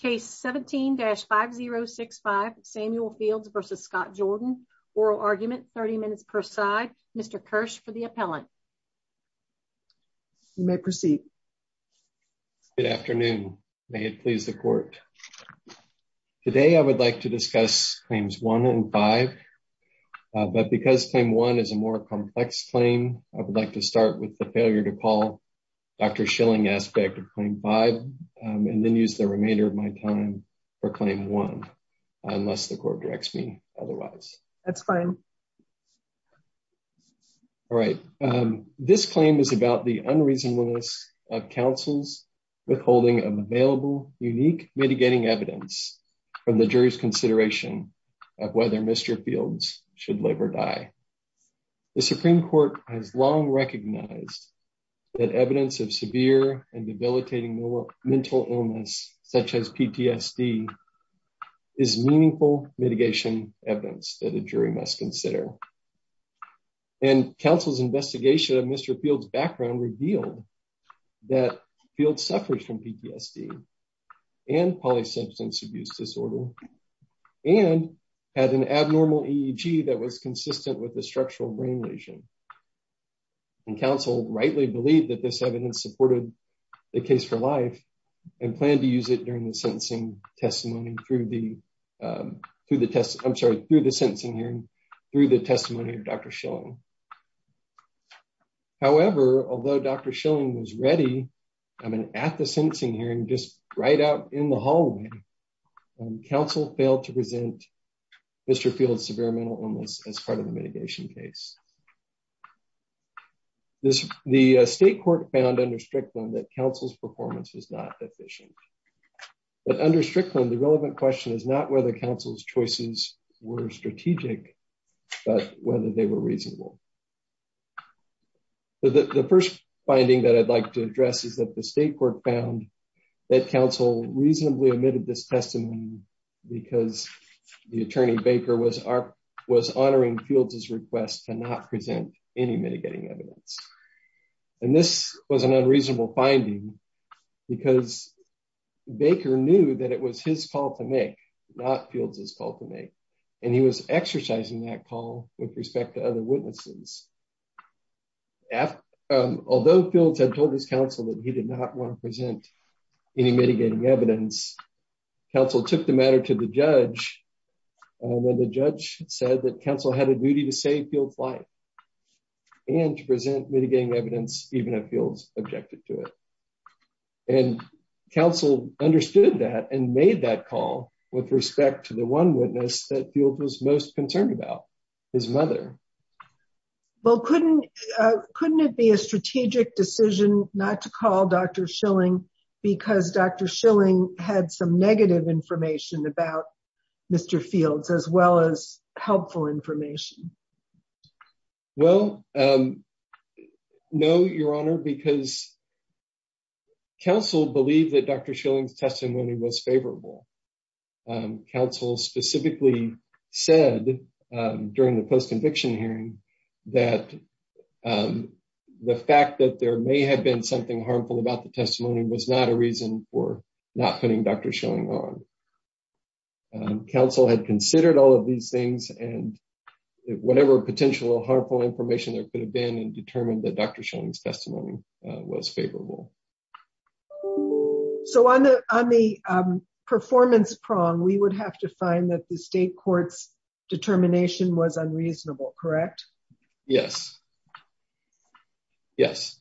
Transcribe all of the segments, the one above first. Case 17-5065 Samuel Fields v. Scott Jordan. Oral argument 30 minutes per side. Mr. Kirsch for the appellant. You may proceed. Good afternoon. May it please the court. Today I would like to discuss claims 1 and 5. But because claim 1 is a more complex claim, I would like to start with the failure to call Dr. Schilling aspect of claim 5 and then use the remainder of my time for claim 1 unless the court directs me otherwise. That's fine. All right. This claim is about the unreasonableness of counsel's withholding of available unique mitigating evidence from the jury's consideration of whether Mr. Fields should live or die. The Supreme Court has long recognized that evidence of severe and debilitating mental illness such as PTSD is meaningful mitigation evidence that a jury must consider. And counsel's investigation of Mr. Fields' background revealed that Fields suffers from PTSD and polysubstance abuse disorder and had an abnormal EEG that was consistent with a structural brain lesion. And counsel rightly believed that this evidence supported the case for life and planned to use it during the sentencing testimony through the, I'm sorry, through the sentencing hearing, through the testimony of Dr. Schilling. However, although Dr. Schilling was ready, I mean, at the sentencing hearing, just right out in the hallway, counsel failed to present Mr. Fields' severe mental illness as part of the mitigation case. The state court found under Strickland that counsel's performance was not efficient. But under Strickland, the relevant question is not whether counsel's choices were strategic, but whether they were reasonable. The first finding that I'd like to address is that the state court found that counsel reasonably omitted this testimony because the attorney Baker was honoring Fields' request to not present any mitigating evidence. And this was an unreasonable finding because Baker knew that it was his call to make, not Fields' call to make. And he was exercising that call with respect to other witnesses. Although Fields had told his counsel that he did not want to present any mitigating evidence, counsel took the matter to the judge when the judge said that counsel had a duty to save Fields' life and to present mitigating evidence even if Fields objected to it. And counsel understood that and made that call with respect to the one witness that Fields was most concerned about, his mother. Well, couldn't, couldn't it be a strategic decision not to call Dr. Schilling because Dr. Schilling had some negative information about Mr. Fields as well as helpful information? Well, no, Your Honor, because counsel believed that Dr. Schilling's testimony was favorable. Counsel specifically said during the post-conviction hearing that the fact that there may have been something harmful about the testimony was not a reason for not putting Dr. Schilling on. Counsel had considered all of these things and whatever potential harmful information there could have been and determined that Dr. Schilling's testimony was favorable. So on the, on the performance prong, we would have to find that the state court's determination was unreasonable, correct? Yes, yes,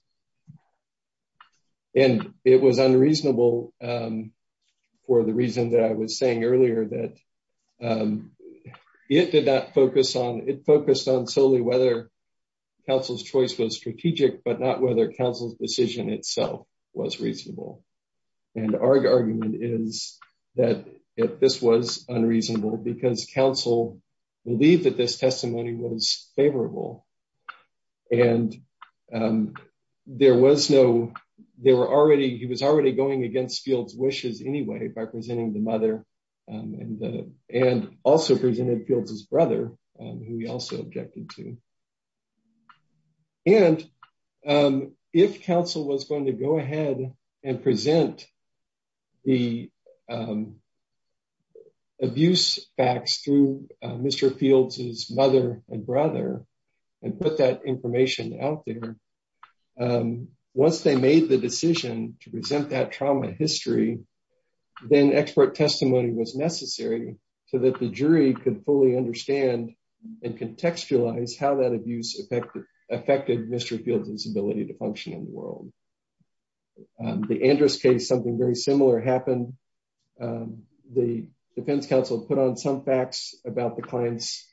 and it was unreasonable for the reason that I was saying earlier that it did not focus on, it focused on solely whether counsel's choice was strategic but not whether counsel's decision itself was reasonable. And our argument is that this was unreasonable because counsel believed that this testimony was favorable and there was no, there were already, he was already going against Fields' wishes anyway by presenting the mother and, and also presented Fields' brother who he also objected to. And if counsel was going to go ahead and present the abuse facts through Mr. Fields' mother and brother and put that information out there, once they made the decision to present that trauma history, then expert testimony was necessary so that the jury could fully understand and contextualize how that abuse affected, affected Mr. Fields' ability to function in the world. The Andrus case, something very similar happened. The defense counsel put on some facts about the client's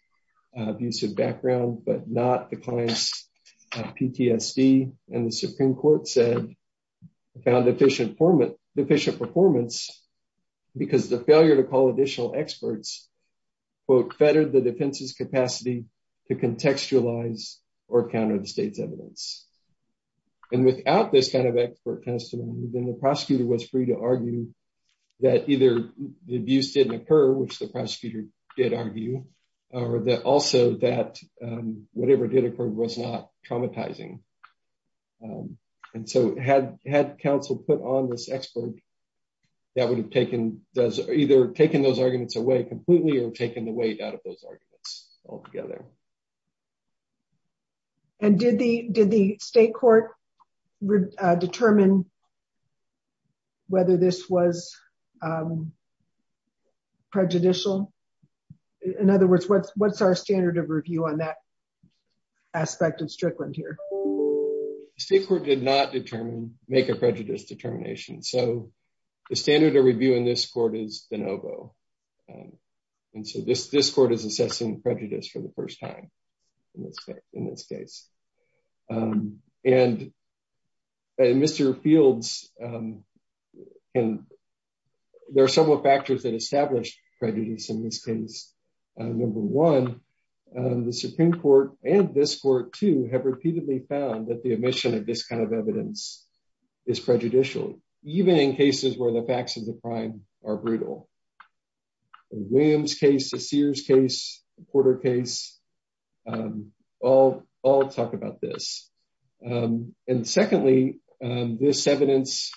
abusive background but not the client's PTSD and the Supreme Court said, found deficient performance, deficient performance because the failure to call additional experts, quote, fettered the defense's capacity to contextualize or counter the state's evidence. And without this kind of expert testimony, then the prosecutor was free to argue that either the abuse didn't occur, which the prosecutor did argue, or that also that whatever did occur was not traumatizing. And so had, had counsel put on this expert, that would have taken does either taken those arguments away completely or taken the weight out of those arguments altogether. And did the, did the state court determine whether this was prejudicial? In other words, what's, what's our standard of review on that here? The state court did not determine, make a prejudice determination. So the standard of review in this court is de novo. And so this, this court is assessing prejudice for the first time in this case. And Mr. Fields, and there are several factors that establish prejudice in this case. Number one, the Supreme Court and this court too, have repeatedly found that the omission of this kind of evidence is prejudicial, even in cases where the facts of the crime are brutal. In William's case, the Sears case, Porter case, all, all talk about this. And secondly, this evidence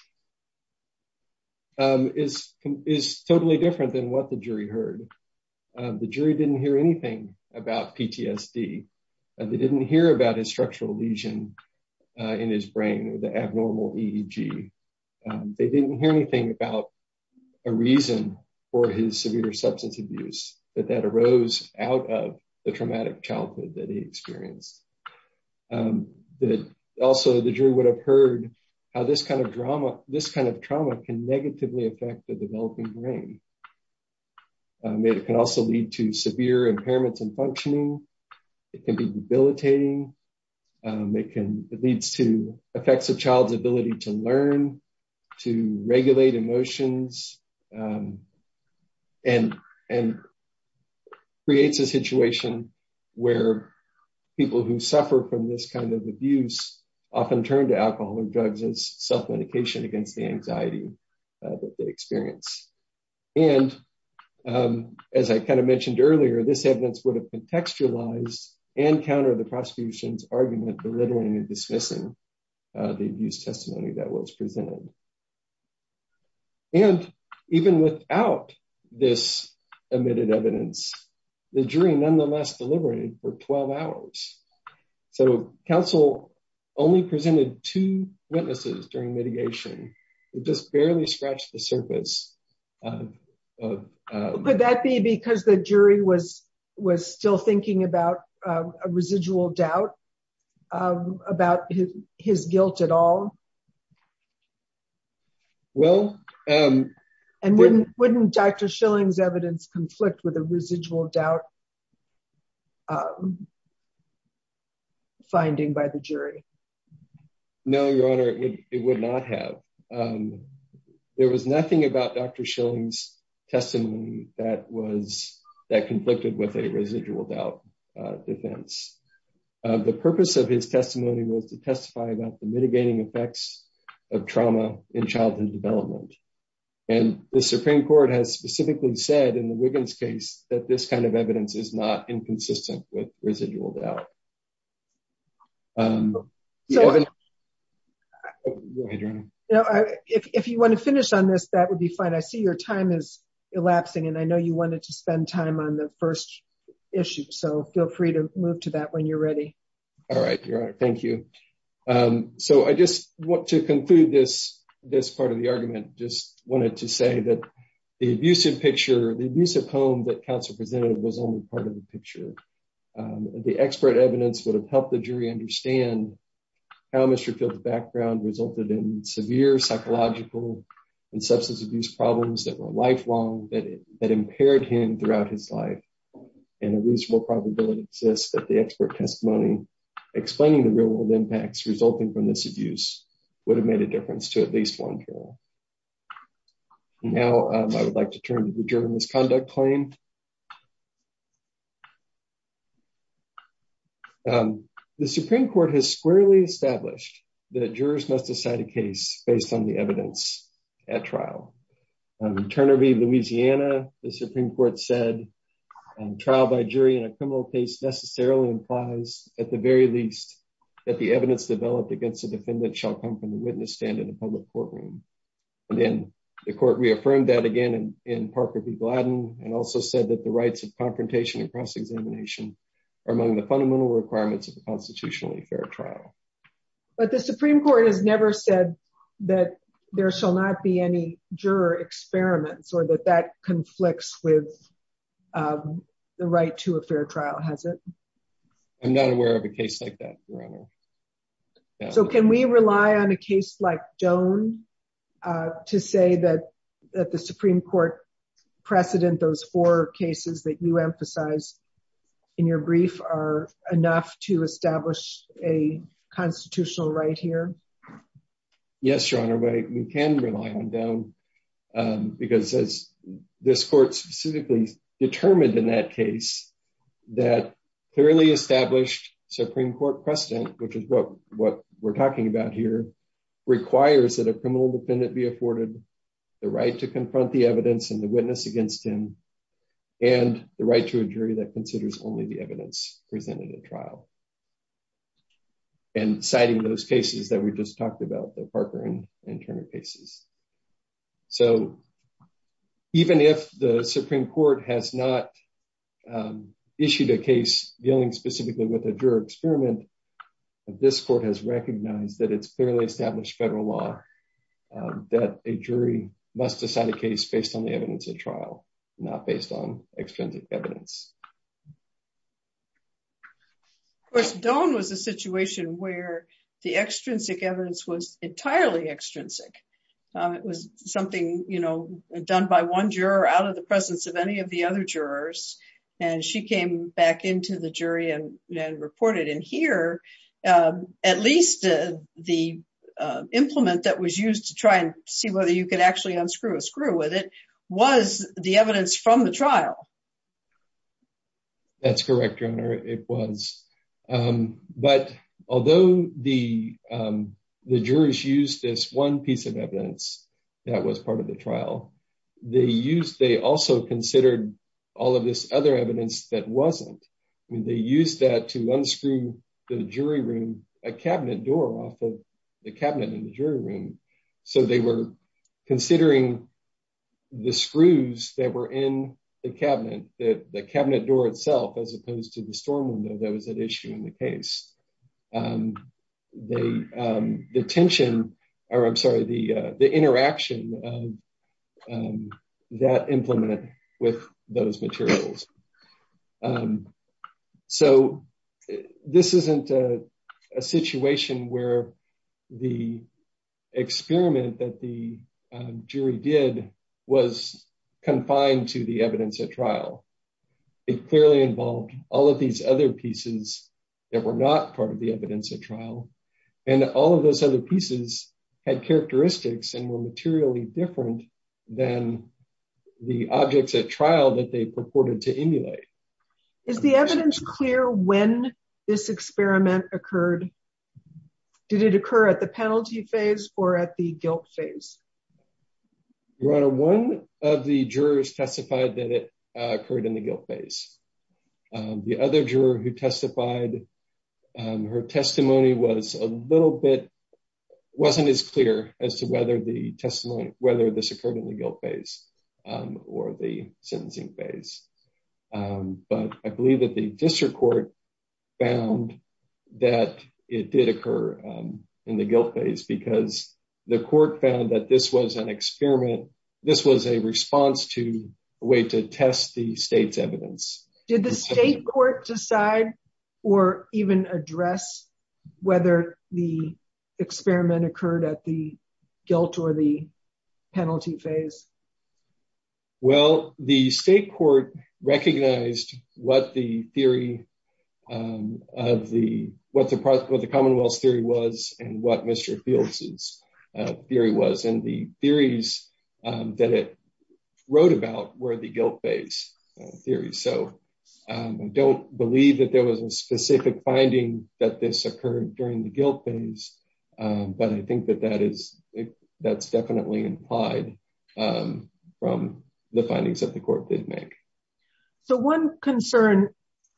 is, is totally different than what the jury heard. The jury didn't hear anything about PTSD. They didn't hear about his structural lesion in his brain, the abnormal EEG. They didn't hear anything about a reason for his severe substance abuse, that that arose out of the traumatic childhood that he experienced. Also, the jury would have heard how this kind of drama, this kind of trauma can negatively affect the developing brain. It can also lead to severe impairments in functioning. It can be debilitating. It can, it leads to where people who suffer from this kind of abuse often turn to alcohol or drugs as self-medication against the anxiety that they experience. And as I kind of mentioned earlier, this evidence would have contextualized and countered the prosecution's argument, belittling and dismissing the abuse testimony that was presented. And even without this omitted evidence, the jury nonetheless deliberated for 12 hours. So counsel only presented two witnesses during mitigation. It just barely scratched the surface. Could that be because the jury was, was still thinking about a residual doubt about his guilt at all? Well, wouldn't Dr. Schilling's evidence conflict with a residual doubt finding by the jury? No, your honor, it would not have. There was nothing about Dr. Schilling's testimony that was, that conflicted with a residual doubt defense. The purpose of his in childhood development. And the Supreme Court has specifically said in the Wiggins case that this kind of evidence is not inconsistent with residual doubt. If you want to finish on this, that would be fine. I see your time is elapsing and I know you wanted to spend time on the first issue. So feel free to move to that when you're ready. All right, your honor. Thank you. So I just want to conclude this, this part of the argument, just wanted to say that the abusive picture, the abusive home that counsel presented was only part of the picture. The expert evidence would have helped the jury understand how Mr. Field's background resulted in severe psychological and substance abuse problems that were lifelong that impaired him throughout his life. And a reasonable probability exists that the expert testimony explaining the real world impacts resulting from this abuse would have made a difference to at least one juror. Now I would like to turn to the juror misconduct claim. The Supreme Court has squarely established that jurors must decide a case based on the evidence at trial. Turner v. Louisiana, the Supreme Court said trial by jury in a criminal case necessarily implies at the very least that the evidence developed against the defendant shall come from the witness stand in a public courtroom. And then the court reaffirmed that again in Parker v. Gladden and also said that the rights of confrontation and cross-examination are among the fundamental requirements of a constitutionally fair trial. But the Supreme Court has never said that there shall not be any juror experiments or that that conflicts with the right to a fair trial, has it? I'm not aware of a case like that, Your Honor. So can we rely on a case like Doane to say that the Supreme Court precedent those four cases that you emphasize in your brief are enough to establish a constitutional right here? Yes, Your Honor, we can rely on Doane because as this court specifically determined in that case that clearly established Supreme Court precedent, which is what we're talking about here, requires that a criminal defendant be afforded the right to confront the evidence and the witness against him and the right to a jury that considers only the evidence presented at trial. And citing those cases that we just talked about, the Parker and Turner cases. So even if the Supreme Court has not issued a case dealing specifically with a juror experiment, this court has recognized that it's clearly established federal law that a jury must decide a case based on the evidence at trial, not based on extensive evidence. Of course, Doane was a situation where the extrinsic evidence was entirely extrinsic. It was something, you know, done by one juror out of the presence of any of the other jurors, and she came back into the jury and reported. And here, at least the implement that was used to try and see whether you could actually unscrew a screw with it was the evidence from the trial. That's correct, Your Honor, it was. But although the jurors used this one piece of evidence that was part of the trial, they also considered all of this other evidence that wasn't. I mean, they used that to unscrew the jury room, a cabinet door off of the cabinet in the jury room. So they were considering the screws that were in the cabinet, the cabinet door itself, as opposed to the storm window that was at issue in the case. The tension, or I'm sorry, the interaction of that implement with those materials. So this isn't a situation where the experiment that the jury did was confined to the evidence at trial. It clearly involved all of these other pieces that were not part of the evidence at trial, and all of those other pieces had characteristics and were materially different than the objects at trial that they purported to emulate. Is the evidence clear when this experiment occurred? Did it occur at the penalty phase or at the guilt phase? Your Honor, one of the jurors testified that it occurred in the guilt phase. The other juror who testified, her testimony was a little bit, wasn't as clear as to whether the testimony, whether this occurred in the guilt phase or the sentencing phase. But I believe that the district court found that it did occur in the guilt phase because the court found that this was an experiment. This was a response to a way to test the state's evidence. Did the state court decide or even address whether the experiment occurred at the penalty phase? I don't believe that there was a specific finding that this occurred during the guilt phase, but I think that that's definitely implied from the findings that the court did make. So one concern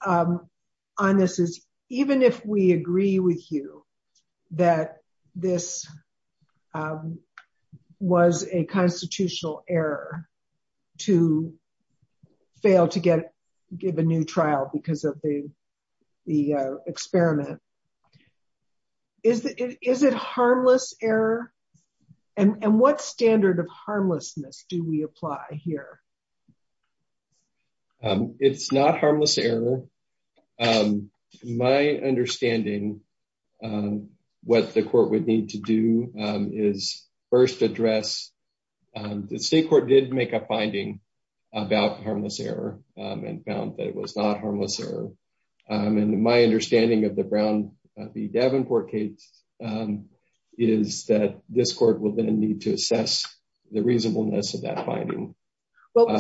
on this is, even if we agree with you that this was a constitutional error to fail to give a new trial because of the experiment, is it harmless error? And what standard of harmlessness do we apply here? It's not harmless error. My understanding, what the court would need to do is first address, the state court did make a finding about harmless error and found that it was not harmless error. And my understanding of the Brown v. Davenport case is that this court will then need to assess the reasonableness of that finding.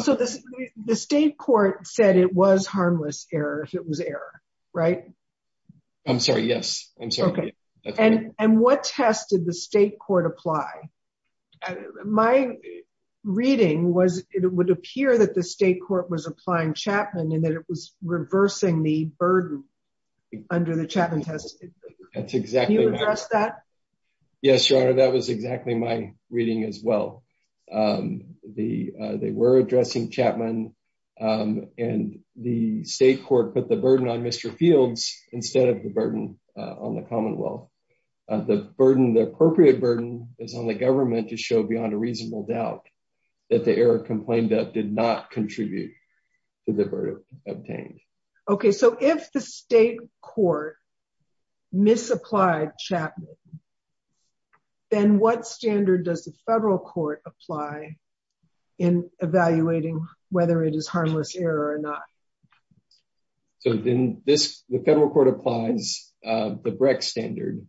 So the state court said it was harmless error if it was error, right? I'm sorry, yes. I'm sorry. And what test did the state court apply? My reading was it would appear that the state court was applying Chapman and that it was reversing the burden under the Chapman test. Can you address that? Yes, Your Honor, that was exactly my reading as well. They were addressing Chapman and the state court put the burden on Mr. Fields instead of the burden on the Commonwealth. The appropriate burden is on the government to show beyond a reasonable doubt that the error complained of not contribute to the burden obtained. Okay. So if the state court misapplied Chapman, then what standard does the federal court apply in evaluating whether it is harmless error or not? So then this, the federal court applies the Brecht standard.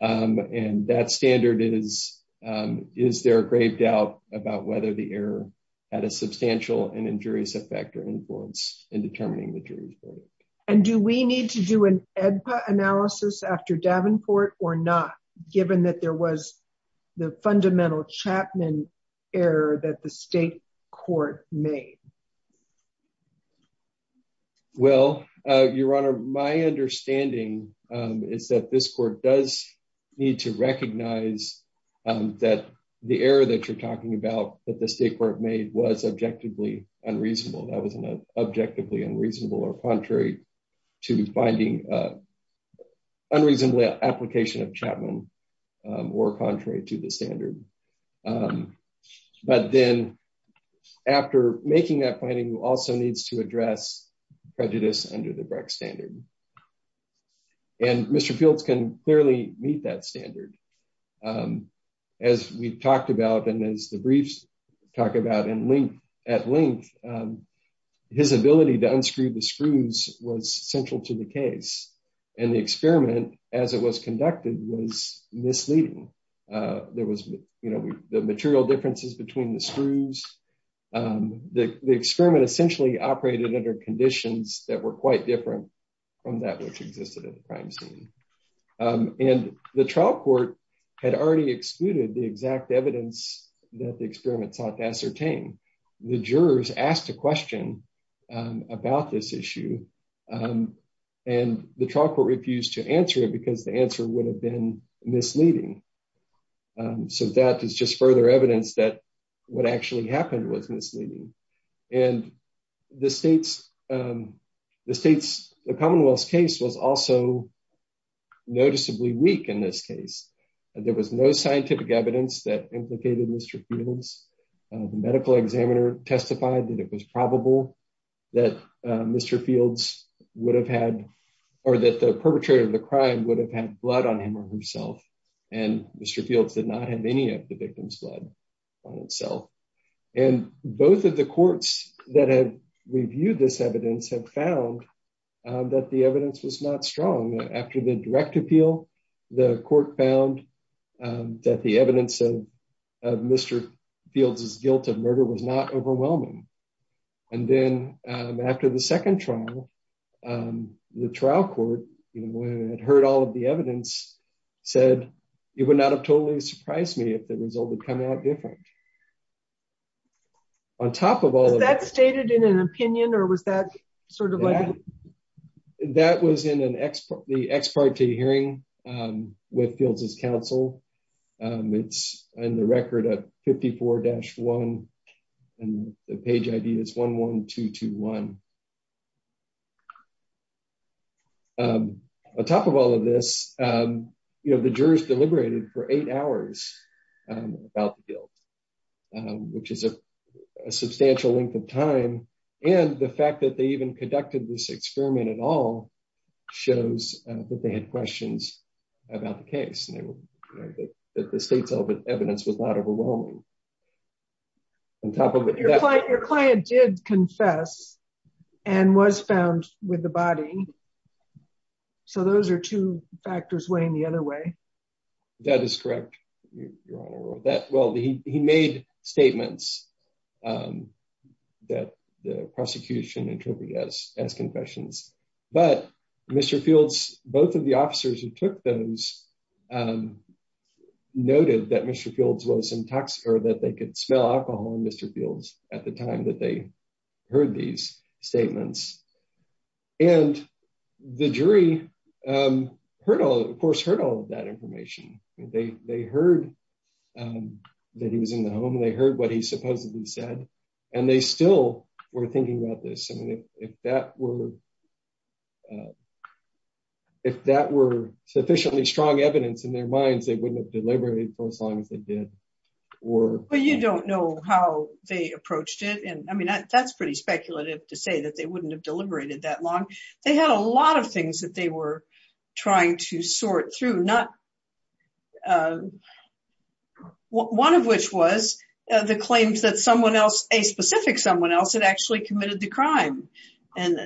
And that standard is, is there a grave doubt about whether the error had a substantial and injurious effect or influence in determining the jury's verdict? And do we need to do an AEDPA analysis after Davenport or not, given that there was the fundamental Chapman error that the state court made? Well, Your Honor, my understanding is that this court does need to recognize that the error that you're talking about that the state court made was objectively unreasonable. That wasn't an objectively unreasonable or contrary to finding an unreasonably application of Chapman or contrary to the standard. But then after making that finding also needs to address prejudice under the Brecht standard. And Mr. Fields can clearly meet that standard. As we've talked about, and as the briefs talk about at length, his ability to unscrew the screws was central to the case. And the experiment as it was conducted was misleading. There was, you know, the material differences between the screws. The experiment essentially operated under conditions that were quite different from that which existed at the crime scene. And the trial court had already excluded the exact evidence that the experiment sought to ascertain. The jurors asked a question about this issue, and the trial court refused to answer it because the answer would have been misleading. So that is just further evidence that what actually happened was misleading. And the Commonwealth's case was also noticeably weak in this case. There was no scientific evidence that implicated Mr. Fields. The medical examiner testified that it was probable that Mr. Fields would have had, or that the perpetrator of the crime would have had blood on him or herself. And Mr. Fields did not have any of the victim's blood on itself. And both of the courts that have reviewed this evidence have found that the evidence was not strong. After the direct appeal, the court found that the evidence of Mr. Fields' guilt of murder was not overwhelming. And then after the second trial, the trial court, you know, when it heard all of the evidence, said, it would not have totally surprised me if the result had come out different. On top of all of that... Was that stated in an opinion, or was that sort of like... That was in the ex parte hearing with Fields' counsel. It's in the record at 54-1, and the page ID is 11221. On top of all of this, you know, the jurors deliberated for eight hours about the guilt, which is a substantial length of time. And the fact that they even conducted this experiment at all shows that they had questions about the case, that the state's evidence was not overwhelming. On top of it... Your client did confess and was found with the body. So those are two factors weighing the other way. That is correct, Your Honor. Well, he made statements that the prosecution interpreted as confessions. But Mr. Fields, both of the officers who took those, noted that Mr. Fields was intox... Or that they could smell alcohol in Mr. Fields at the time that they heard these statements. And the jury heard all... Of course, heard all of that information. They heard that he was in the home. They heard what he supposedly said. And they still were thinking about this. I mean, if that were sufficiently strong evidence in their minds, they wouldn't have deliberated for as long as they did. Or... Well, you don't know how they approached it. And I mean, that's pretty speculative to say that they wouldn't have sort through. Not... One of which was the claims that someone else, a specific someone else, had actually committed the crime. And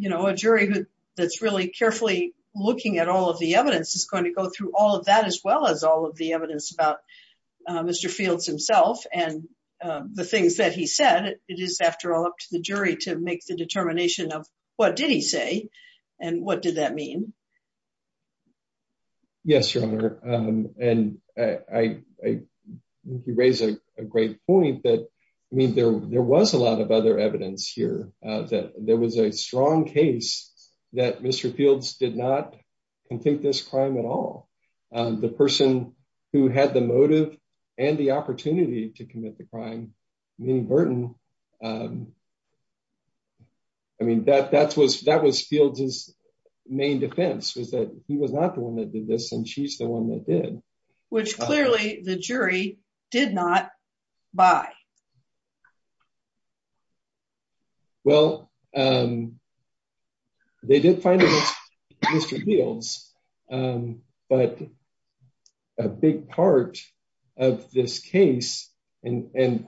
a jury that's really carefully looking at all of the evidence is going to go through all of that as well as all of the evidence about Mr. Fields himself and the things that he said. It is, after all, up to the jury to make the determination of what did he say and what did that mean. Yes, Your Honor. And I think you raise a great point that, I mean, there was a lot of other evidence here that there was a strong case that Mr. Fields did not convict this crime at all. The person who had the motive and the opportunity to commit the crime, Minnie Burton, I mean, that was Fields' main defense was that he was not the one that did this and she's the one that did. Which clearly the jury did not buy. Well, they did find against Mr. Fields, but a big part of this case and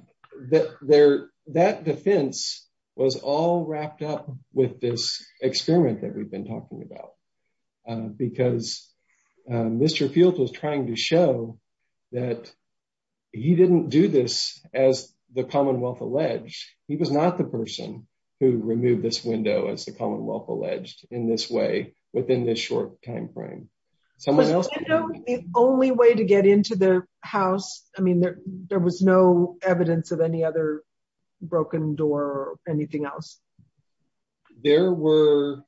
that defense was all wrapped up with this experiment that we've been talking about. Because Mr. Fields was trying to show that he didn't do this as the Commonwealth alleged. He was not the person who removed this window, as the Commonwealth alleged, in this way, within this short time frame. The only way to get into the house, I mean, there was no evidence of any other broken door or anything else. There was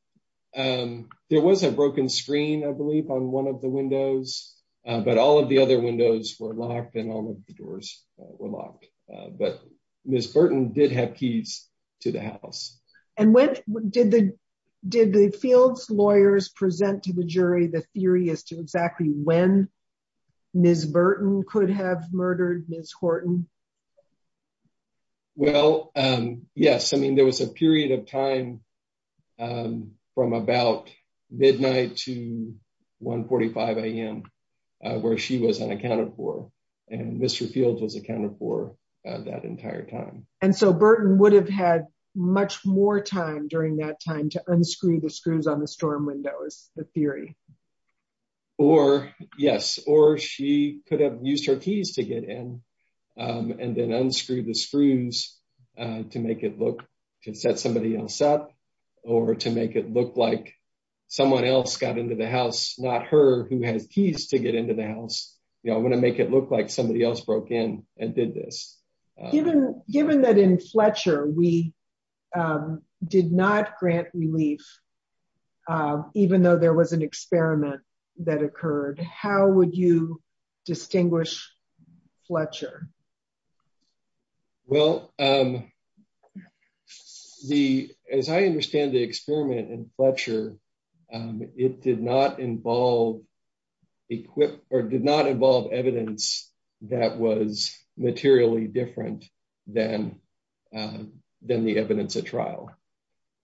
a broken screen, I believe, on one of the windows but all of the other windows were locked and all of the doors were locked. But Ms. Burton did have keys to the house. Did the Fields lawyers present to the jury the theory as to exactly when Ms. Burton could have murdered Ms. Horton? Well, yes, I mean, there was a period of time from about midnight to 1 45 a.m. where she was unaccounted for and Mr. Fields was accounted for that entire time. And so Burton would have had much more time during that time to unscrew the screws on the storm windows, the theory? Or, yes, or she could have used her keys to get in and then unscrew the screws to make it look to set somebody else up or to make it look like someone else got into the house, not her, who has keys to get into the house. You know, I'm going to make it look like somebody else broke in and did this. Given that in Fletcher we did not grant relief, even though there was an experiment that occurred, how would you explain that to us? Well, as I understand the experiment in Fletcher, it did not involve evidence that was materially different than the evidence at trial.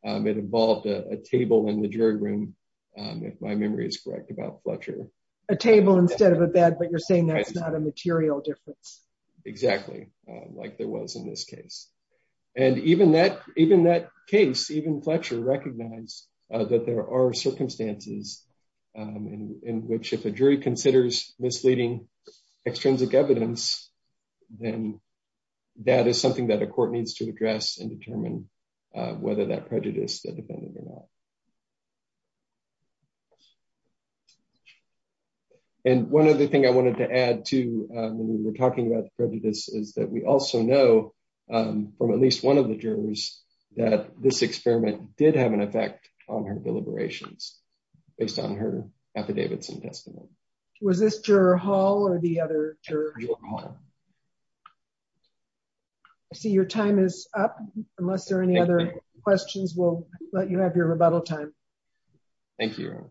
It involved a table in the jury room, if my memory is correct, about Fletcher. A table instead of a bed, but you're saying that's a material difference. Exactly, like there was in this case. And even that case, even Fletcher recognized that there are circumstances in which if a jury considers misleading extrinsic evidence, then that is something that a court needs to address and determine whether that prejudice defended or not. And one other thing I wanted to add to when we were talking about the prejudice is that we also know from at least one of the jurors that this experiment did have an effect on her deliberations based on her affidavits and testimony. Was this juror Hall or the other juror? I see your time is up. Unless there are any other questions, we'll let you have your rebuttal time. Thank you.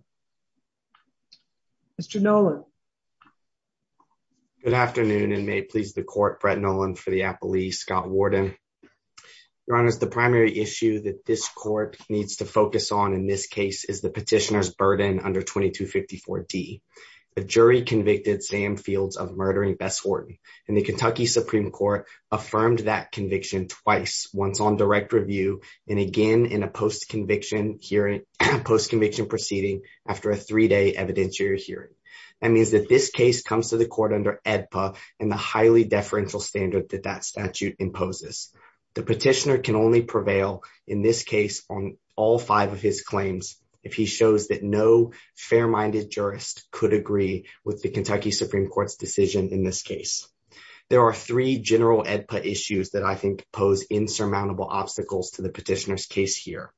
Mr. Nolan. Good afternoon and may it please the court, Brett Nolan for the Appalachian Police, Scott Warden. Your Honor, the primary issue that this court needs to focus on in this case is the petitioner's and the Kentucky Supreme Court affirmed that conviction twice, once on direct review and again in a post-conviction hearing, post-conviction proceeding after a three-day evidentiary hearing. That means that this case comes to the court under AEDPA and the highly deferential standard that that statute imposes. The petitioner can only prevail in this case on all five of his claims if he shows that no fair-minded jurist could agree with the Kentucky Supreme Court's decision in this case. There are three general AEDPA issues that I think pose insurmountable obstacles to the petitioner's case here.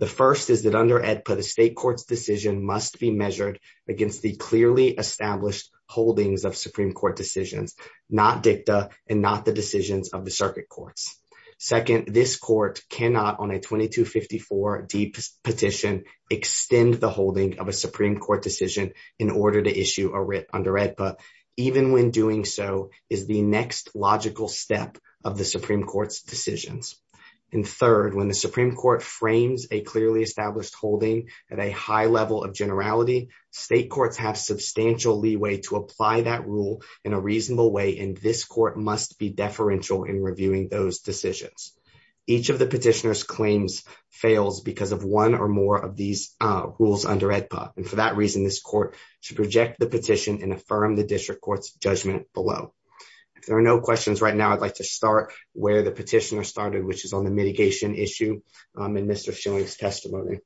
The first is that under AEDPA, the state court's decision must be measured against the clearly established holdings of Supreme Court decisions, not dicta and not the decisions of the circuit courts. Second, this court cannot, on a 2254D petition, extend the so is the next logical step of the Supreme Court's decisions. And third, when the Supreme Court frames a clearly established holding at a high level of generality, state courts have substantial leeway to apply that rule in a reasonable way and this court must be deferential in reviewing those decisions. Each of the petitioner's claims fails because of one or more of these rules under AEDPA and for that reason this court should reject the petition and affirm the district court's judgment below. If there are no questions right now, I'd like to start where the petitioner started which is on the mitigation issue in Mr. Schilling's testimony.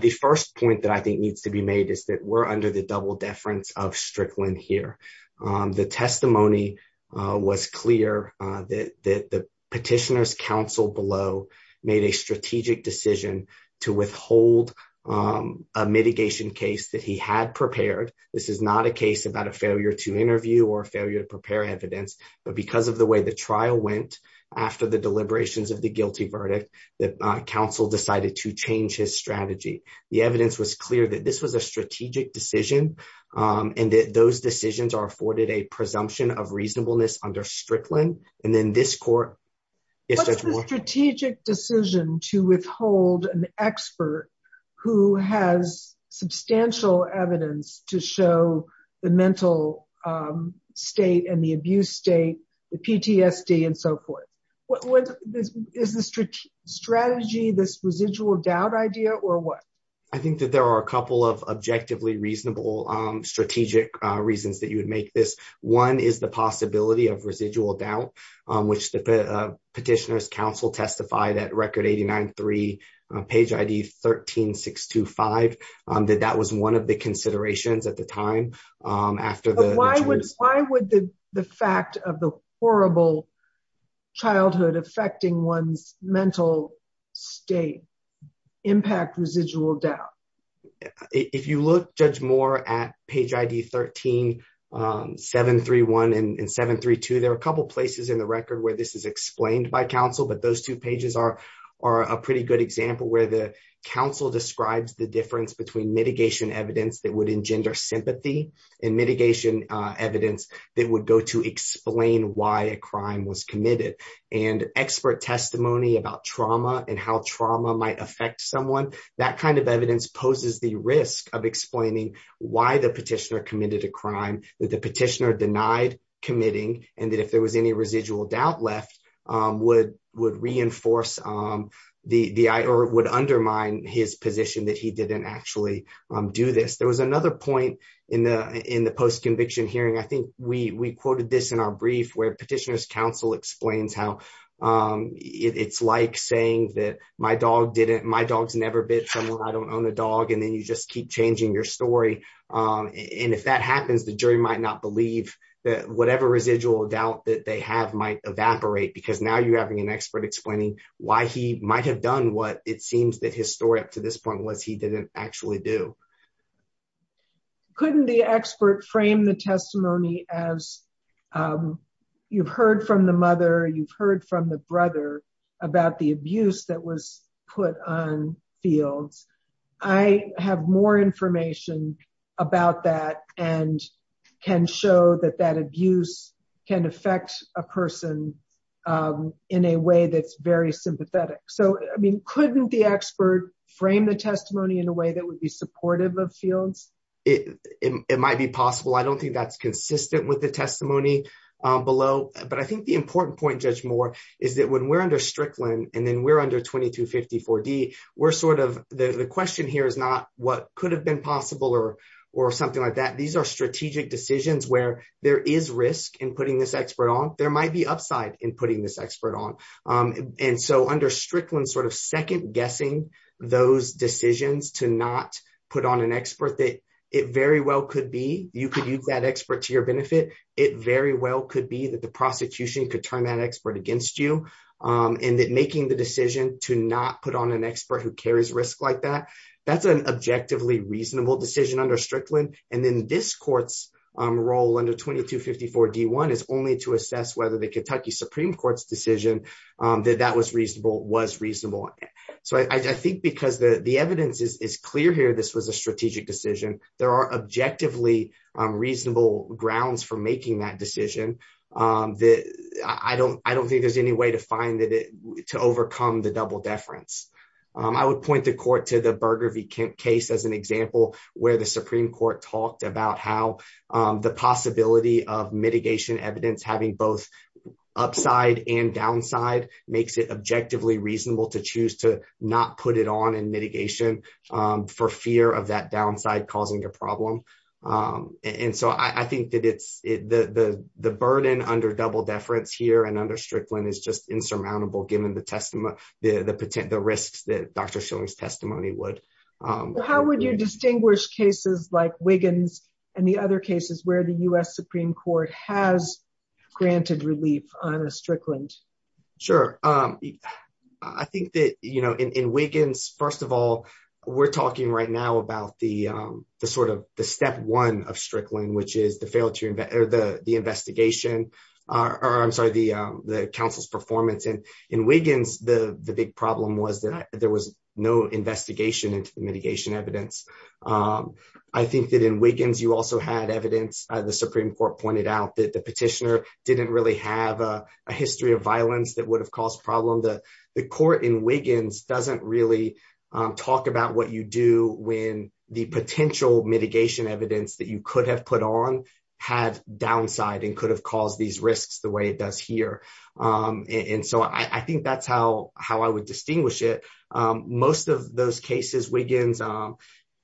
The first point that I think needs to be made is that we're under the double deference of Strickland here. The testimony was clear that the petitioner's counsel below made a strategic decision to withhold a mitigation case that he had prepared. This is not a case about a failure to interview or failure to prepare evidence, but because of the way the trial went after the deliberations of the guilty verdict, the counsel decided to change his strategy. The evidence was clear that this was a strategic decision and that those decisions are afforded a presumption of reasonableness under Strickland. What's the strategic decision to withhold an expert who has substantial evidence to show the mental state and the abuse state, the PTSD and so forth? Is the strategy this residual doubt idea or what? I think that there are a couple of objectively reasonable strategic reasons that you would make this. One is the possibility of residual doubt which the petitioner's counsel testified at record 89-3, page ID 13-625, that that was one of the considerations at the time. Why would the fact of the horrible childhood affecting one's mental state impact residual doubt? If you look, Judge Moore, at page ID 13-731 and 732, there are a couple places in the record where this is explained by counsel, but those two pages are a pretty good example where the counsel describes the difference between mitigation evidence that would explain why a crime was committed and expert testimony about trauma and how trauma might affect someone. That kind of evidence poses the risk of explaining why the petitioner committed a crime, that the petitioner denied committing, and that if there was any residual doubt left, would undermine his position that he didn't actually do this. There was another point in the post-conviction hearing. I think we quoted this in our brief where petitioner's counsel explains how it's like saying that my dog's never bit someone, I don't own a dog, and then you just keep changing your story. If that happens, the jury might not believe that whatever residual doubt that they have might evaporate because now you're having an expert explaining why he might have done what it seems that his story up to this point. Couldn't the expert frame the testimony as, you've heard from the mother, you've heard from the brother about the abuse that was put on fields. I have more information about that and can show that that abuse can affect a person in a way that's very sympathetic. Couldn't the expert frame the testimony in a way that would be supportive of fields? It might be possible. I don't think that's consistent with the testimony below, but I think the important point, Judge Moore, is that when we're under Strickland and then we're under 2254D, the question here is not what could have been possible or something like that. These are strategic decisions where there is risk in putting this expert on. There might be upside in putting this expert on. Under Strickland, second guessing those decisions to not put on an expert that it very well could be. You could use that expert to your benefit. It very well could be that the prosecution could turn that expert against you, and that making the decision to not put on an expert who carries risk like that, that's an objectively reasonable decision under Strickland. Then this court's role under 2254D1 is only to assess whether the Kentucky Supreme Court's decision that that was reasonable was reasonable. I think because the evidence is clear here, this was a strategic decision. There are objectively reasonable grounds for making that decision. I don't think there's any way to find it to overcome the double deference. I would point the court to the Supreme Court talked about how the possibility of mitigation evidence having both upside and downside makes it objectively reasonable to choose to not put it on in mitigation for fear of that downside causing a problem. I think that the burden under double deference here and under Strickland is just insurmountable given the risks that Dr. Schilling's testimony would. How would you distinguish cases like Wiggins and the other cases where the U.S. Supreme Court has granted relief on a Strickland? Sure. I think that in Wiggins, first of all, we're talking right now about the step one of Strickland, which is the investigation, or I'm sorry, the counsel's performance. In Wiggins, the big problem was that there was no investigation into the mitigation evidence. I think that in Wiggins, you also had evidence. The Supreme Court pointed out that the petitioner didn't really have a history of violence that would have caused problem. The court in Wiggins doesn't really talk about what you do when the potential mitigation evidence that you could have put on had downside and could have caused these risks the way it does here. I think that's how I would distinguish it. Most of those cases, Wiggins,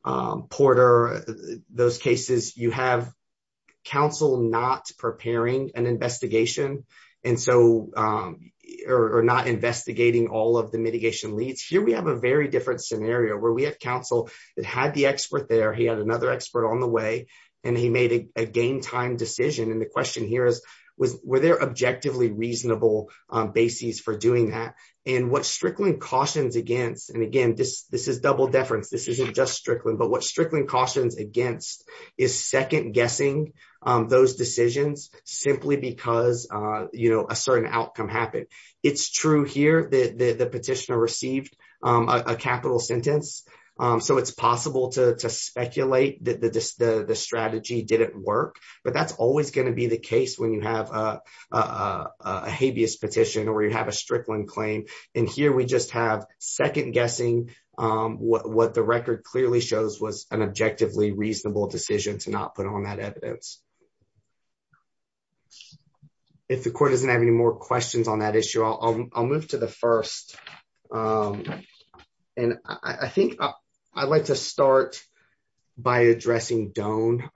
Porter, those cases, you have counsel not preparing an investigation or not investigating all of the mitigation leads. Here, we have a very different scenario where we have counsel that had the expert there, he had another expert on the way, and he made a game time decision. The question here is, were there objectively reasonable basis for doing that? What Strickland cautions against, and again, this is double deference, this isn't just Strickland, but what Strickland cautions against is second guessing those decisions simply because a certain outcome happened. It's true here that the petitioner received a capital sentence, so it's possible to speculate that the strategy didn't work, but that's always going to be the case when you have a habeas petition or you have a Strickland claim. Here, we just have second guessing what the record clearly shows was an objectively reasonable decision to not put on that evidence. If the court doesn't have any more questions on that issue, I'll move to the first. I think I'd like to start by addressing Doane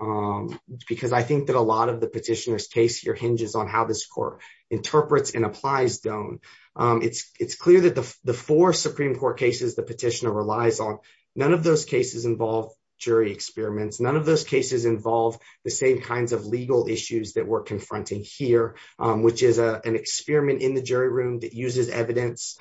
because I think that a lot of the petitioner's case here hinges on how this court interprets and applies Doane. It's clear that the four Supreme Court cases the petitioner relies on, none of those cases involve jury experiments, none of those cases involve the same kinds of legal issues that we're confronting here, which is an experiment in the jury room that uses evidence.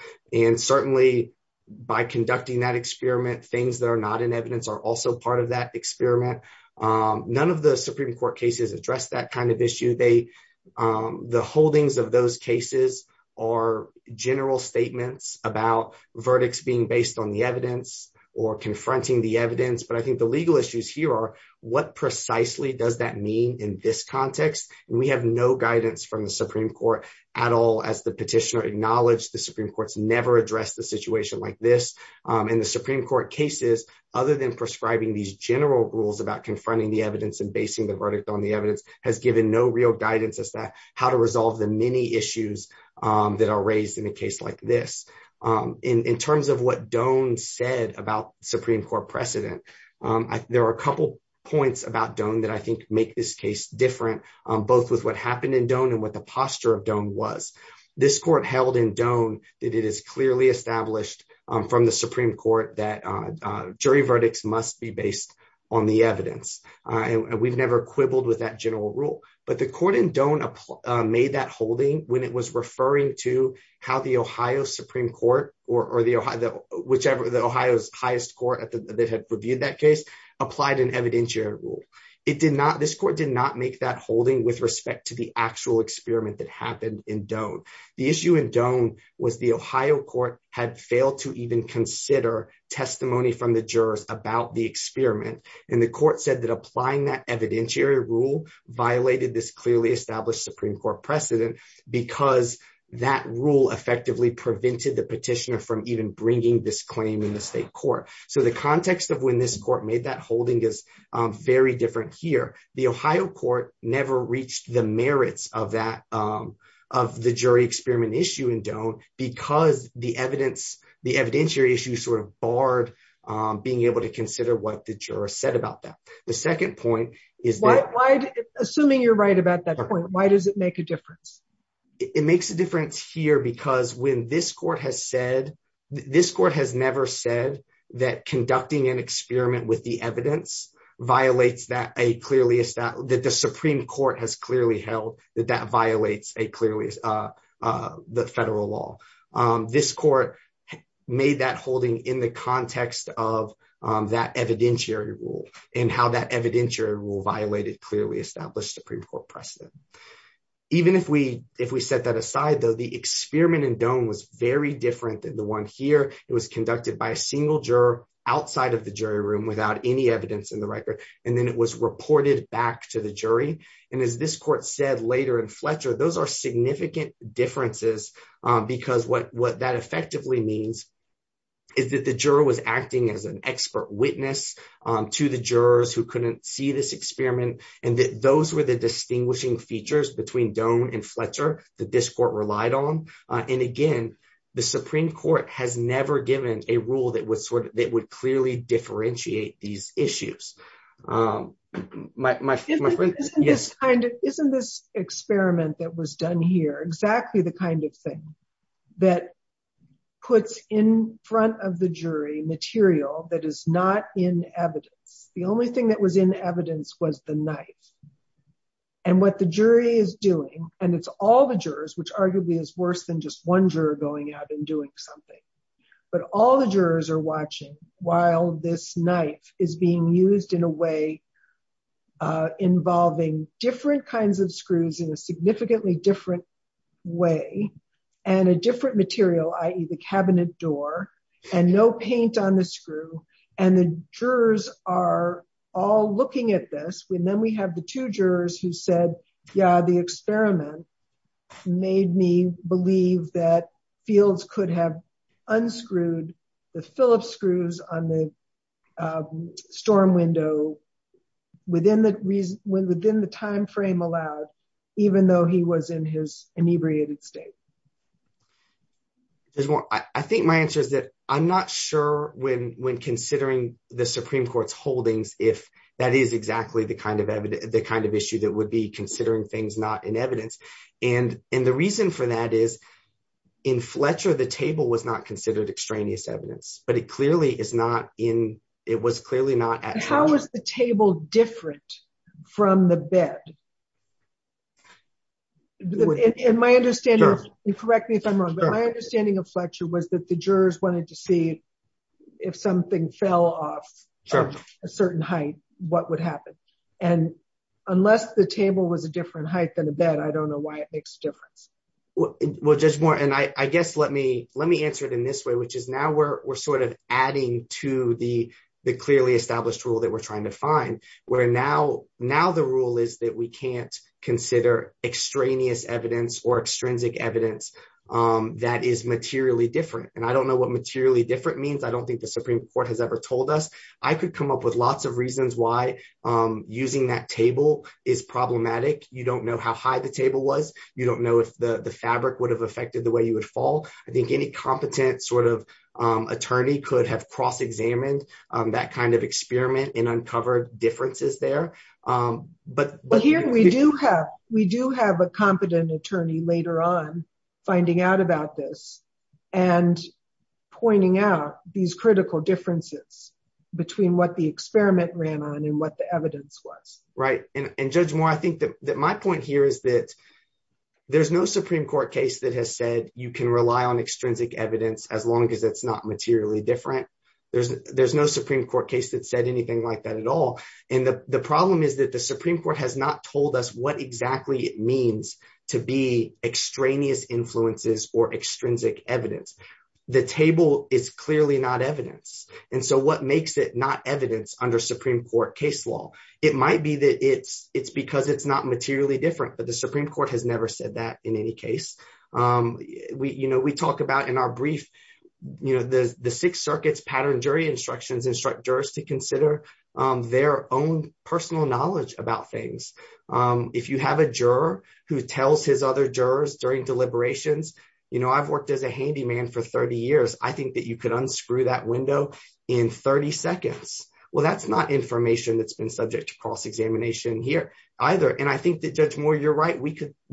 Certainly, by conducting that experiment, things that are not in evidence are also part of that experiment. None of the Supreme Court cases address that kind of issue. The holdings of those cases are general statements about verdicts being based on the evidence or confronting the evidence, but I think the legal issues here are, what precisely does that mean in this context? We have no guidance from the Supreme Court at all as the petitioner acknowledged the Supreme Court's never addressed the situation like this. In the Supreme Court cases, other than prescribing these general rules about confronting the evidence and basing the verdict on the evidence, has given no real guidance as to how to resolve the many issues that are raised in a case like this. In terms of what Doane said about Supreme Court precedent, there are a couple points about Doane that I think make this case different, both with what happened in Doane and what the posture of Doane was. This court held in Doane that it is clearly established from the Supreme Court that jury verdicts must be based on the evidence. We've never quibbled with that general rule, but the court in Doane made that was referring to how the Ohio Supreme Court or the Ohio's highest court that had reviewed that case applied an evidentiary rule. This court did not make that holding with respect to the actual experiment that happened in Doane. The issue in Doane was the Ohio court had failed to even consider testimony from the jurors about the experiment, and the court said that applying that evidentiary rule violated this clearly established Supreme Court precedent because that rule effectively prevented the petitioner from even bringing this claim in the state court. So the context of when this court made that holding is very different here. The Ohio court never reached the merits of the jury experiment issue in Doane because the evidentiary issue sort of barred being able to consider what the jurors said about that. The second point is that... Why, assuming you're right about that point, why does it make a difference? It makes a difference here because when this court has said, this court has never said that conducting an experiment with the evidence violates that a clearly established, that the Supreme Court has clearly held that that violates a clearly, the federal law. This court made that holding in the that evidentiary rule and how that evidentiary rule violated clearly established Supreme Court precedent. Even if we set that aside though, the experiment in Doane was very different than the one here. It was conducted by a single juror outside of the jury room without any evidence in the record. And then it was reported back to the jury. And as this court said later in Fletcher, those are significant differences because what that effectively means is that the juror was acting as an expert witness to the jurors who couldn't see this experiment. And that those were the distinguishing features between Doane and Fletcher that this court relied on. And again, the Supreme Court has never given a rule that would clearly differentiate these issues. Isn't this experiment that was done here exactly the kind of thing that puts in front of the jury material that is not in evidence? The only thing that was in evidence was the knife. And what the jury is doing, and it's all the jurors, which arguably is worse than just one juror going out and doing something. But all the jurors are watching while this knife is being used in a way involving different kinds of screws in a significantly different way. And a different material, i.e. the cabinet door, and no paint on the screw. And the jurors are all looking at this. And then we have the two jurors who said, yeah, the experiment made me believe that Fields could have unscrewed the Phillips screws on the storm window within the timeframe allowed, even though he was in his inebriated state. There's more. I think my answer is that I'm not sure when considering the Supreme Court's holdings if that is exactly the kind of issue that would be considering things not in evidence. And the reason for that is in Fletcher, the table was not considered extraneous evidence, but it clearly is not in, it was clearly not at Fletcher. How was the table different from the bed? And my understanding, correct me if I'm wrong, but my understanding of Fletcher was that the jurors wanted to see if something fell off a certain height, what would happen? And unless the table was a different height than the bed, I don't know why it makes a difference. Well, just more, and I guess let me answer it in this way, which is now we're sort of adding to the clearly established rule that we're trying to find, where now the rule is that we can consider extraneous evidence or extrinsic evidence that is materially different. And I don't know what materially different means. I don't think the Supreme Court has ever told us. I could come up with lots of reasons why using that table is problematic. You don't know how high the table was. You don't know if the fabric would have affected the way you would fall. I think any competent sort of attorney could have cross-examined that kind of experiment and uncovered differences there. But here we do have a competent attorney later on finding out about this and pointing out these critical differences between what the experiment ran on and what the evidence was. Right. And Judge Moore, I think that my point here is that there's no Supreme Court case that has said you can rely on extrinsic evidence as long as it's not at all. And the problem is that the Supreme Court has not told us what exactly it means to be extraneous influences or extrinsic evidence. The table is clearly not evidence. And so what makes it not evidence under Supreme Court case law? It might be that it's because it's not materially different, but the Supreme Court has never said that in any case. We talk about our brief, you know, the Sixth Circuit's pattern jury instructions instruct jurors to consider their own personal knowledge about things. If you have a juror who tells his other jurors during deliberations, you know, I've worked as a handyman for 30 years. I think that you could unscrew that window in 30 seconds. Well, that's not information that's been subject to cross-examination here either. And I think that Judge Moore, you're right. We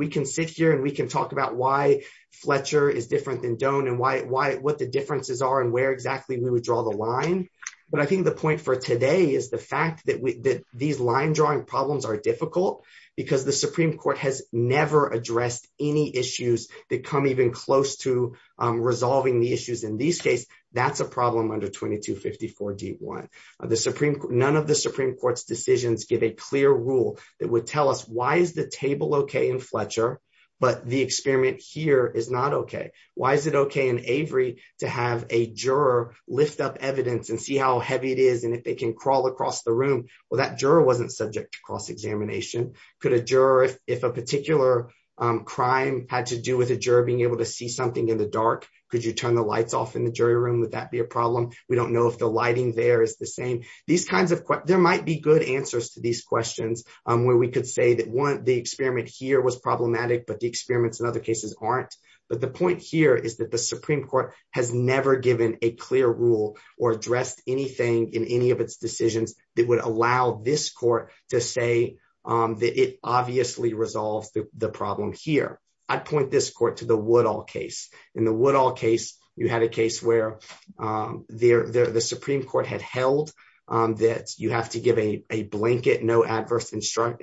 can sit here and we can talk about why what the differences are and where exactly we would draw the line. But I think the point for today is the fact that these line drawing problems are difficult because the Supreme Court has never addressed any issues that come even close to resolving the issues in these cases. That's a problem under 2254 D1. None of the Supreme Court's decisions give a clear rule that would tell us is the table okay in Fletcher, but the experiment here is not okay. Why is it okay in Avery to have a juror lift up evidence and see how heavy it is and if they can crawl across the room? Well, that juror wasn't subject to cross-examination. Could a juror, if a particular crime had to do with a juror being able to see something in the dark, could you turn the lights off in the jury room? Would that be a problem? We don't know if the lighting there is the same. These kinds of, there might be good answers to these questions where we could say that one, the experiment here was problematic, but the experiments in other cases aren't. But the point here is that the Supreme Court has never given a clear rule or addressed anything in any of its decisions that would allow this court to say that it obviously resolves the problem here. I'd point this court to the Woodall case. In the Woodall case, you had a case where the Supreme Court had held that you have to give a blanket, no adverse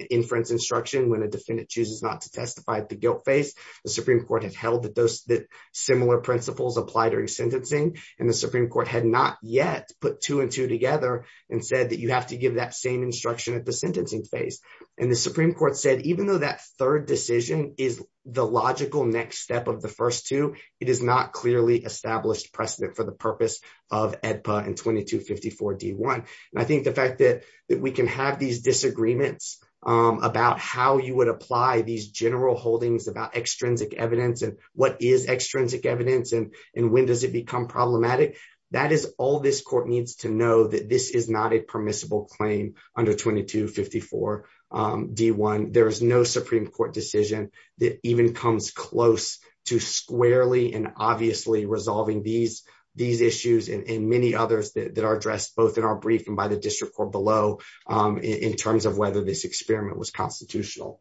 inference instruction when a defendant chooses not to testify at the guilt phase. The Supreme Court had held that similar principles apply during sentencing, and the Supreme Court had not yet put two and two together and said that you have to give that same instruction at the sentencing phase. And the Supreme Court said, even though that third decision is the logical next step of the first two, it is not clearly established precedent for the purpose of EDPA and 2254 D1. And I think the fact that we can have these disagreements about how you would apply these general holdings about extrinsic evidence and what is extrinsic evidence and when does it become problematic, that is all this court needs to know that this is not a permissible claim under 2254 D1. There is no Supreme Court decision that even comes close to squarely and obviously resolving these issues and many others that are addressed both in our brief and by the district court below in terms of whether this experiment was constitutional.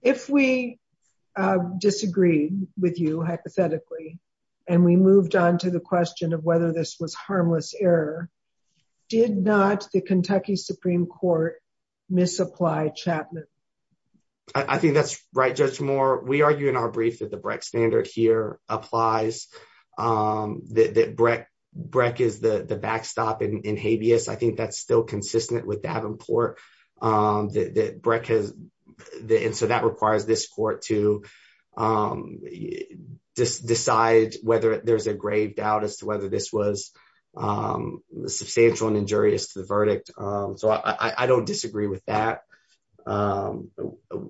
If we disagreed with you, hypothetically, and we moved on to the question of whether this was harmless error, did not the Kentucky Supreme Court misapply Chapman? I think that is right, Judge Moore. We argue in our brief that the Breck standard here applies, that Breck is the backstop in habeas. I think that is still consistent with Davenport. So that requires this court to decide whether there is a grave doubt as to whether this was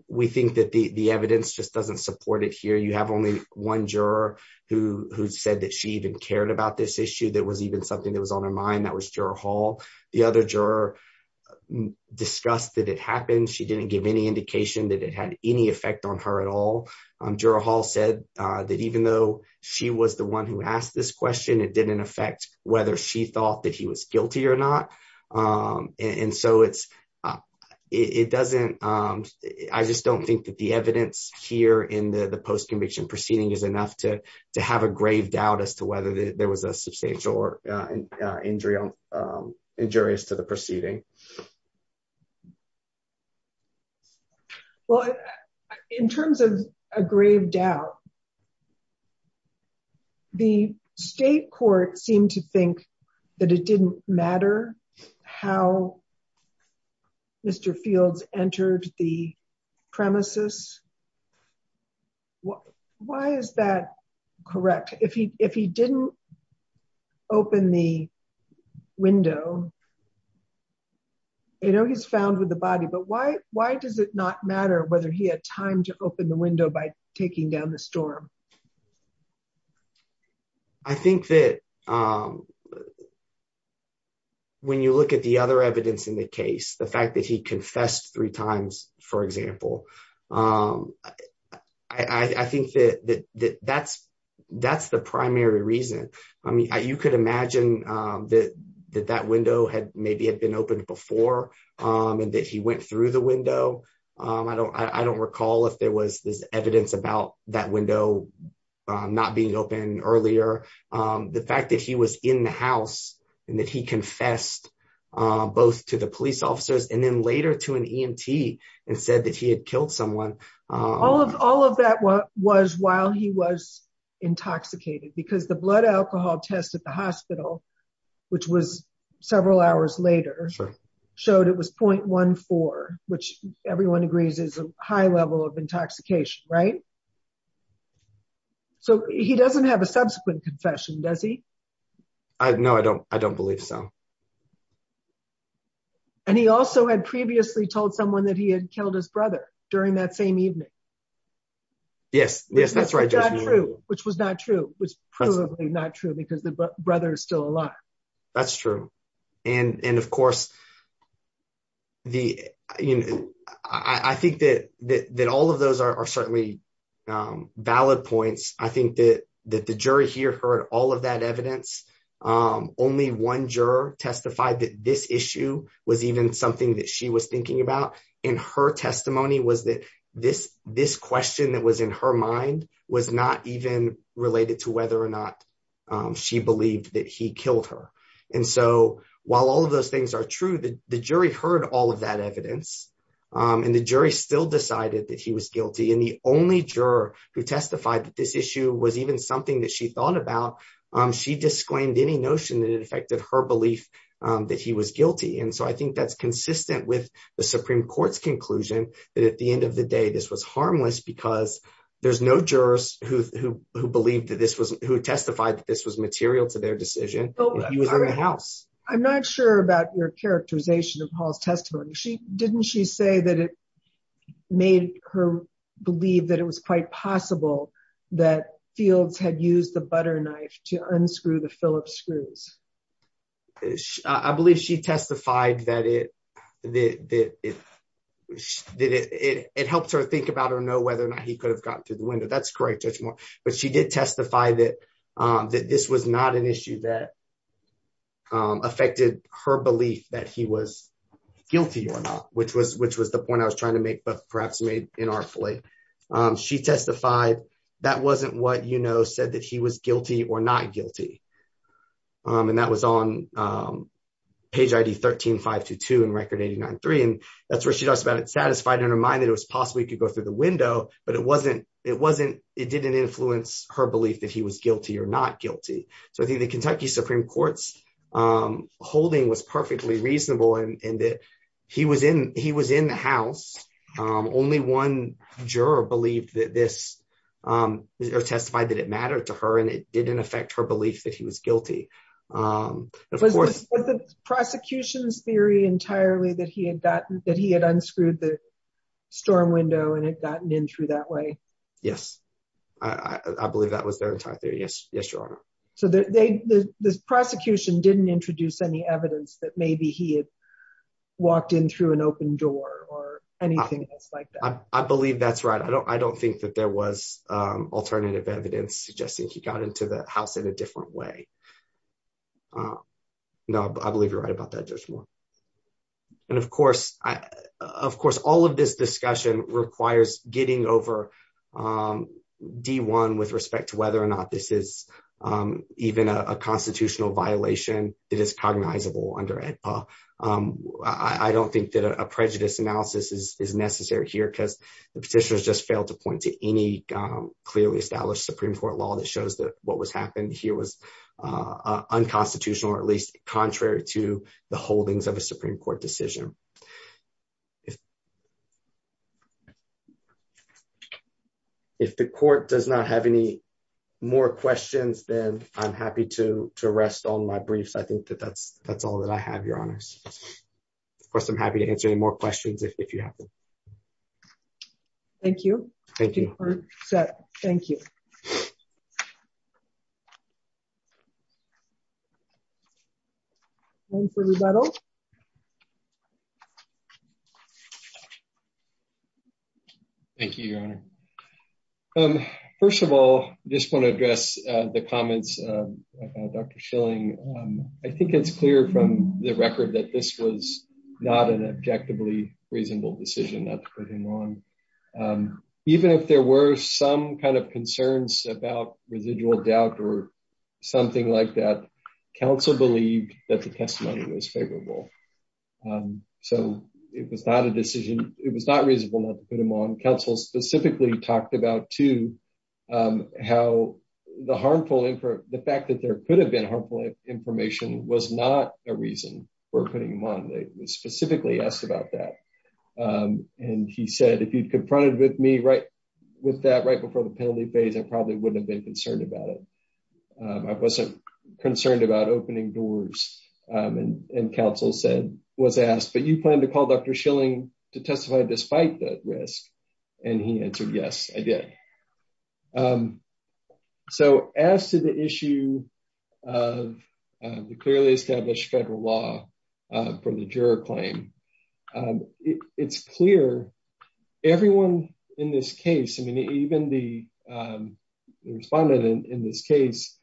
we think that the evidence just does not support it here. You have only one juror who said that she even cared about this issue. That was even something that was on her mind. That was Juror Hall. The other juror discussed that it happened. She did not give any indication that it had any effect on her at all. Juror Hall said that even though she was the one who asked this question, it did not affect whether she thought that he was guilty or not. I just do not think that the evidence here in the postconviction proceeding is enough to have a grave doubt as to whether there was a substantial injury as to the proceeding. In terms of a grave doubt, the state court seemed to think that it did not matter how Mr. Fields entered the premises. Why is that correct? If he did not open the window, I know he was found with the body, but why does it not matter whether he had time to open the window by taking down the storm? I think that when you look at the other evidence in the case, the fact that he confessed three times, for example, I think that that is the primary reason. You could imagine that that had been opened before and that he went through the window. I do not recall if there was this evidence about that window not being opened earlier. The fact that he was in the house and that he confessed both to the police officers and then later to an EMT and said that he had killed someone. All of that was while he was intoxicated because the blood alcohol test at the hospital, which was several hours later, showed it was 0.14, which everyone agrees is a high level of intoxication, right? He does not have a subsequent confession, does he? No, I do not believe so. He also had previously told someone that he had killed his brother during that same evening. Yes, yes, that's right, which was not true. It was probably not true because the brother is still alive. That's true. And of course, I think that all of those are certainly valid points. I think that the jury here heard all of that evidence. Only one juror testified that this issue was even she was thinking about in her testimony was that this question that was in her mind was not even related to whether or not she believed that he killed her. And so, while all of those things are true, the jury heard all of that evidence and the jury still decided that he was guilty. And the only juror who testified that this issue was even something that she thought about, she disclaimed any notion that it affected her belief that he was guilty. And so, I think that's consistent with the Supreme Court's conclusion that at the end of the day, this was harmless because there's no jurors who believed that this was who testified that this was material to their decision. He was in the house. I'm not sure about your characterization of Paul's testimony. Didn't she say that it made her believe that it was quite possible that Fields had used the butter knife to unscrew the Phillips screws? I believe she testified that it helped her think about or know whether or not he could have gotten through the window. That's correct, Judge Moore. But she did testify that this was not an issue that affected her belief that he was guilty or not, which was the point I was trying to make, perhaps inartfully. She testified that wasn't what said that he was guilty or not guilty. And that was on page ID 13-522 in Record 89-3. And that's where she talks about it satisfied in her mind that it was possible he could go through the window, but it didn't influence her belief that he was guilty or not guilty. So, I think the Kentucky Supreme Court's holding was perfectly reasonable in that he was in the house. Only one juror testified that it mattered to her, and it didn't affect her belief that he was guilty. Was the prosecution's theory entirely that he had unscrewed the storm window and had gotten in through that way? Yes. I believe that was their entire theory. Yes, Your Honor. So, the prosecution didn't introduce any evidence that maybe he had walked in through an open door or anything else like that? I believe that's right. I don't think that there was alternative evidence suggesting he got into the house in a different way. No, I believe you're right about that, Judge Moore. And, of course, all of this discussion requires getting over D-1 with respect to whether or not this is even a constitutional violation that is cognizable under AEDPA. I don't think that a prejudice analysis is necessary here because the petitioners just failed to point to any clearly established Supreme Court law that shows that what was happening here was unconstitutional, or at least contrary to the holdings of a Supreme Court decision. If the Court does not have any more questions, then I'm happy to rest on my briefs. I think that that's all that I have, Your Honors. Of course, I'm happy to answer any more questions if you have them. Thank you. Thank you. Thank you, Your Honor. First of all, I just want to address the comments of Dr. Schilling. I think it's clear from the record that this was not an objectively reasonable decision, not to put him on. Even if there were some kind of concerns about residual doubt or something like that, counsel believed that the testimony was favorable. So it was not a decision. It was not reasonable not to put him on. Counsel specifically talked about, too, how the fact that there could have been harmful information was not a reason for it. He said, if you confronted me with that right before the penalty phase, I probably wouldn't have been concerned about it. I wasn't concerned about opening doors. Counsel was asked, but you plan to call Dr. Schilling to testify despite the risk? He answered, yes, I did. As to the issue of the clearly established federal law from the juror claim, it's clear. Everyone in this case, even the respondent in this case,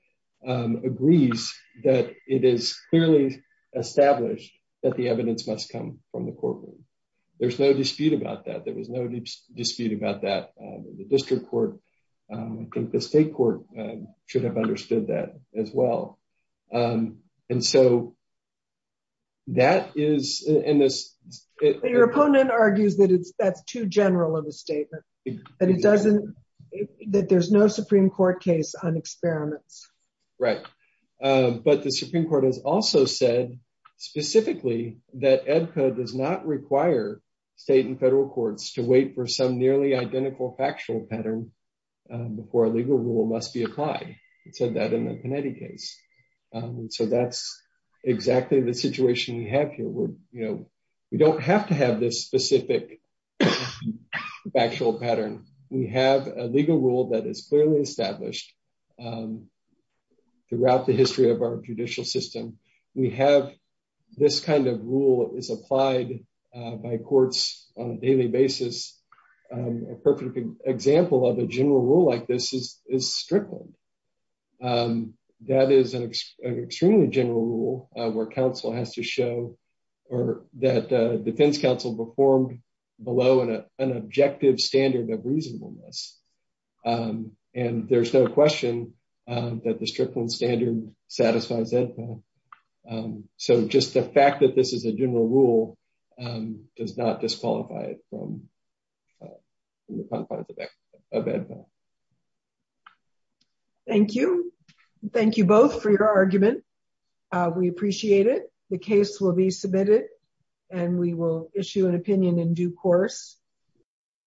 agrees that it is clearly established that the evidence must come from the courtroom. There's no dispute about that. There was no dispute about that in the district court. I think the state court should have understood that as well. And so that is in this... Your opponent argues that that's too general of a statement, that there's no Supreme Court case on experiments. Right. But the Supreme Court has also said specifically that EDCA does not require state and federal courts to wait for some nearly identical factual pattern before a legal rule must be applied. It said that in the Panetti case. So that's exactly the situation we have here. We don't have to have this specific factual pattern. We have a legal rule that is clearly established throughout the history of our judicial system. We have this kind of rule is applied by courts on a daily basis. A perfect example of a general rule like this is Strickland. That is an extremely general rule where counsel has to show or that defense counsel performed below an objective standard of reasonableness. And there's no question that the Strickland standard satisfies that. So just the fact that this is a general rule does not disqualify it. Thank you. Thank you both for your argument. We appreciate it. The case will be submitted and we will issue an opinion in due course.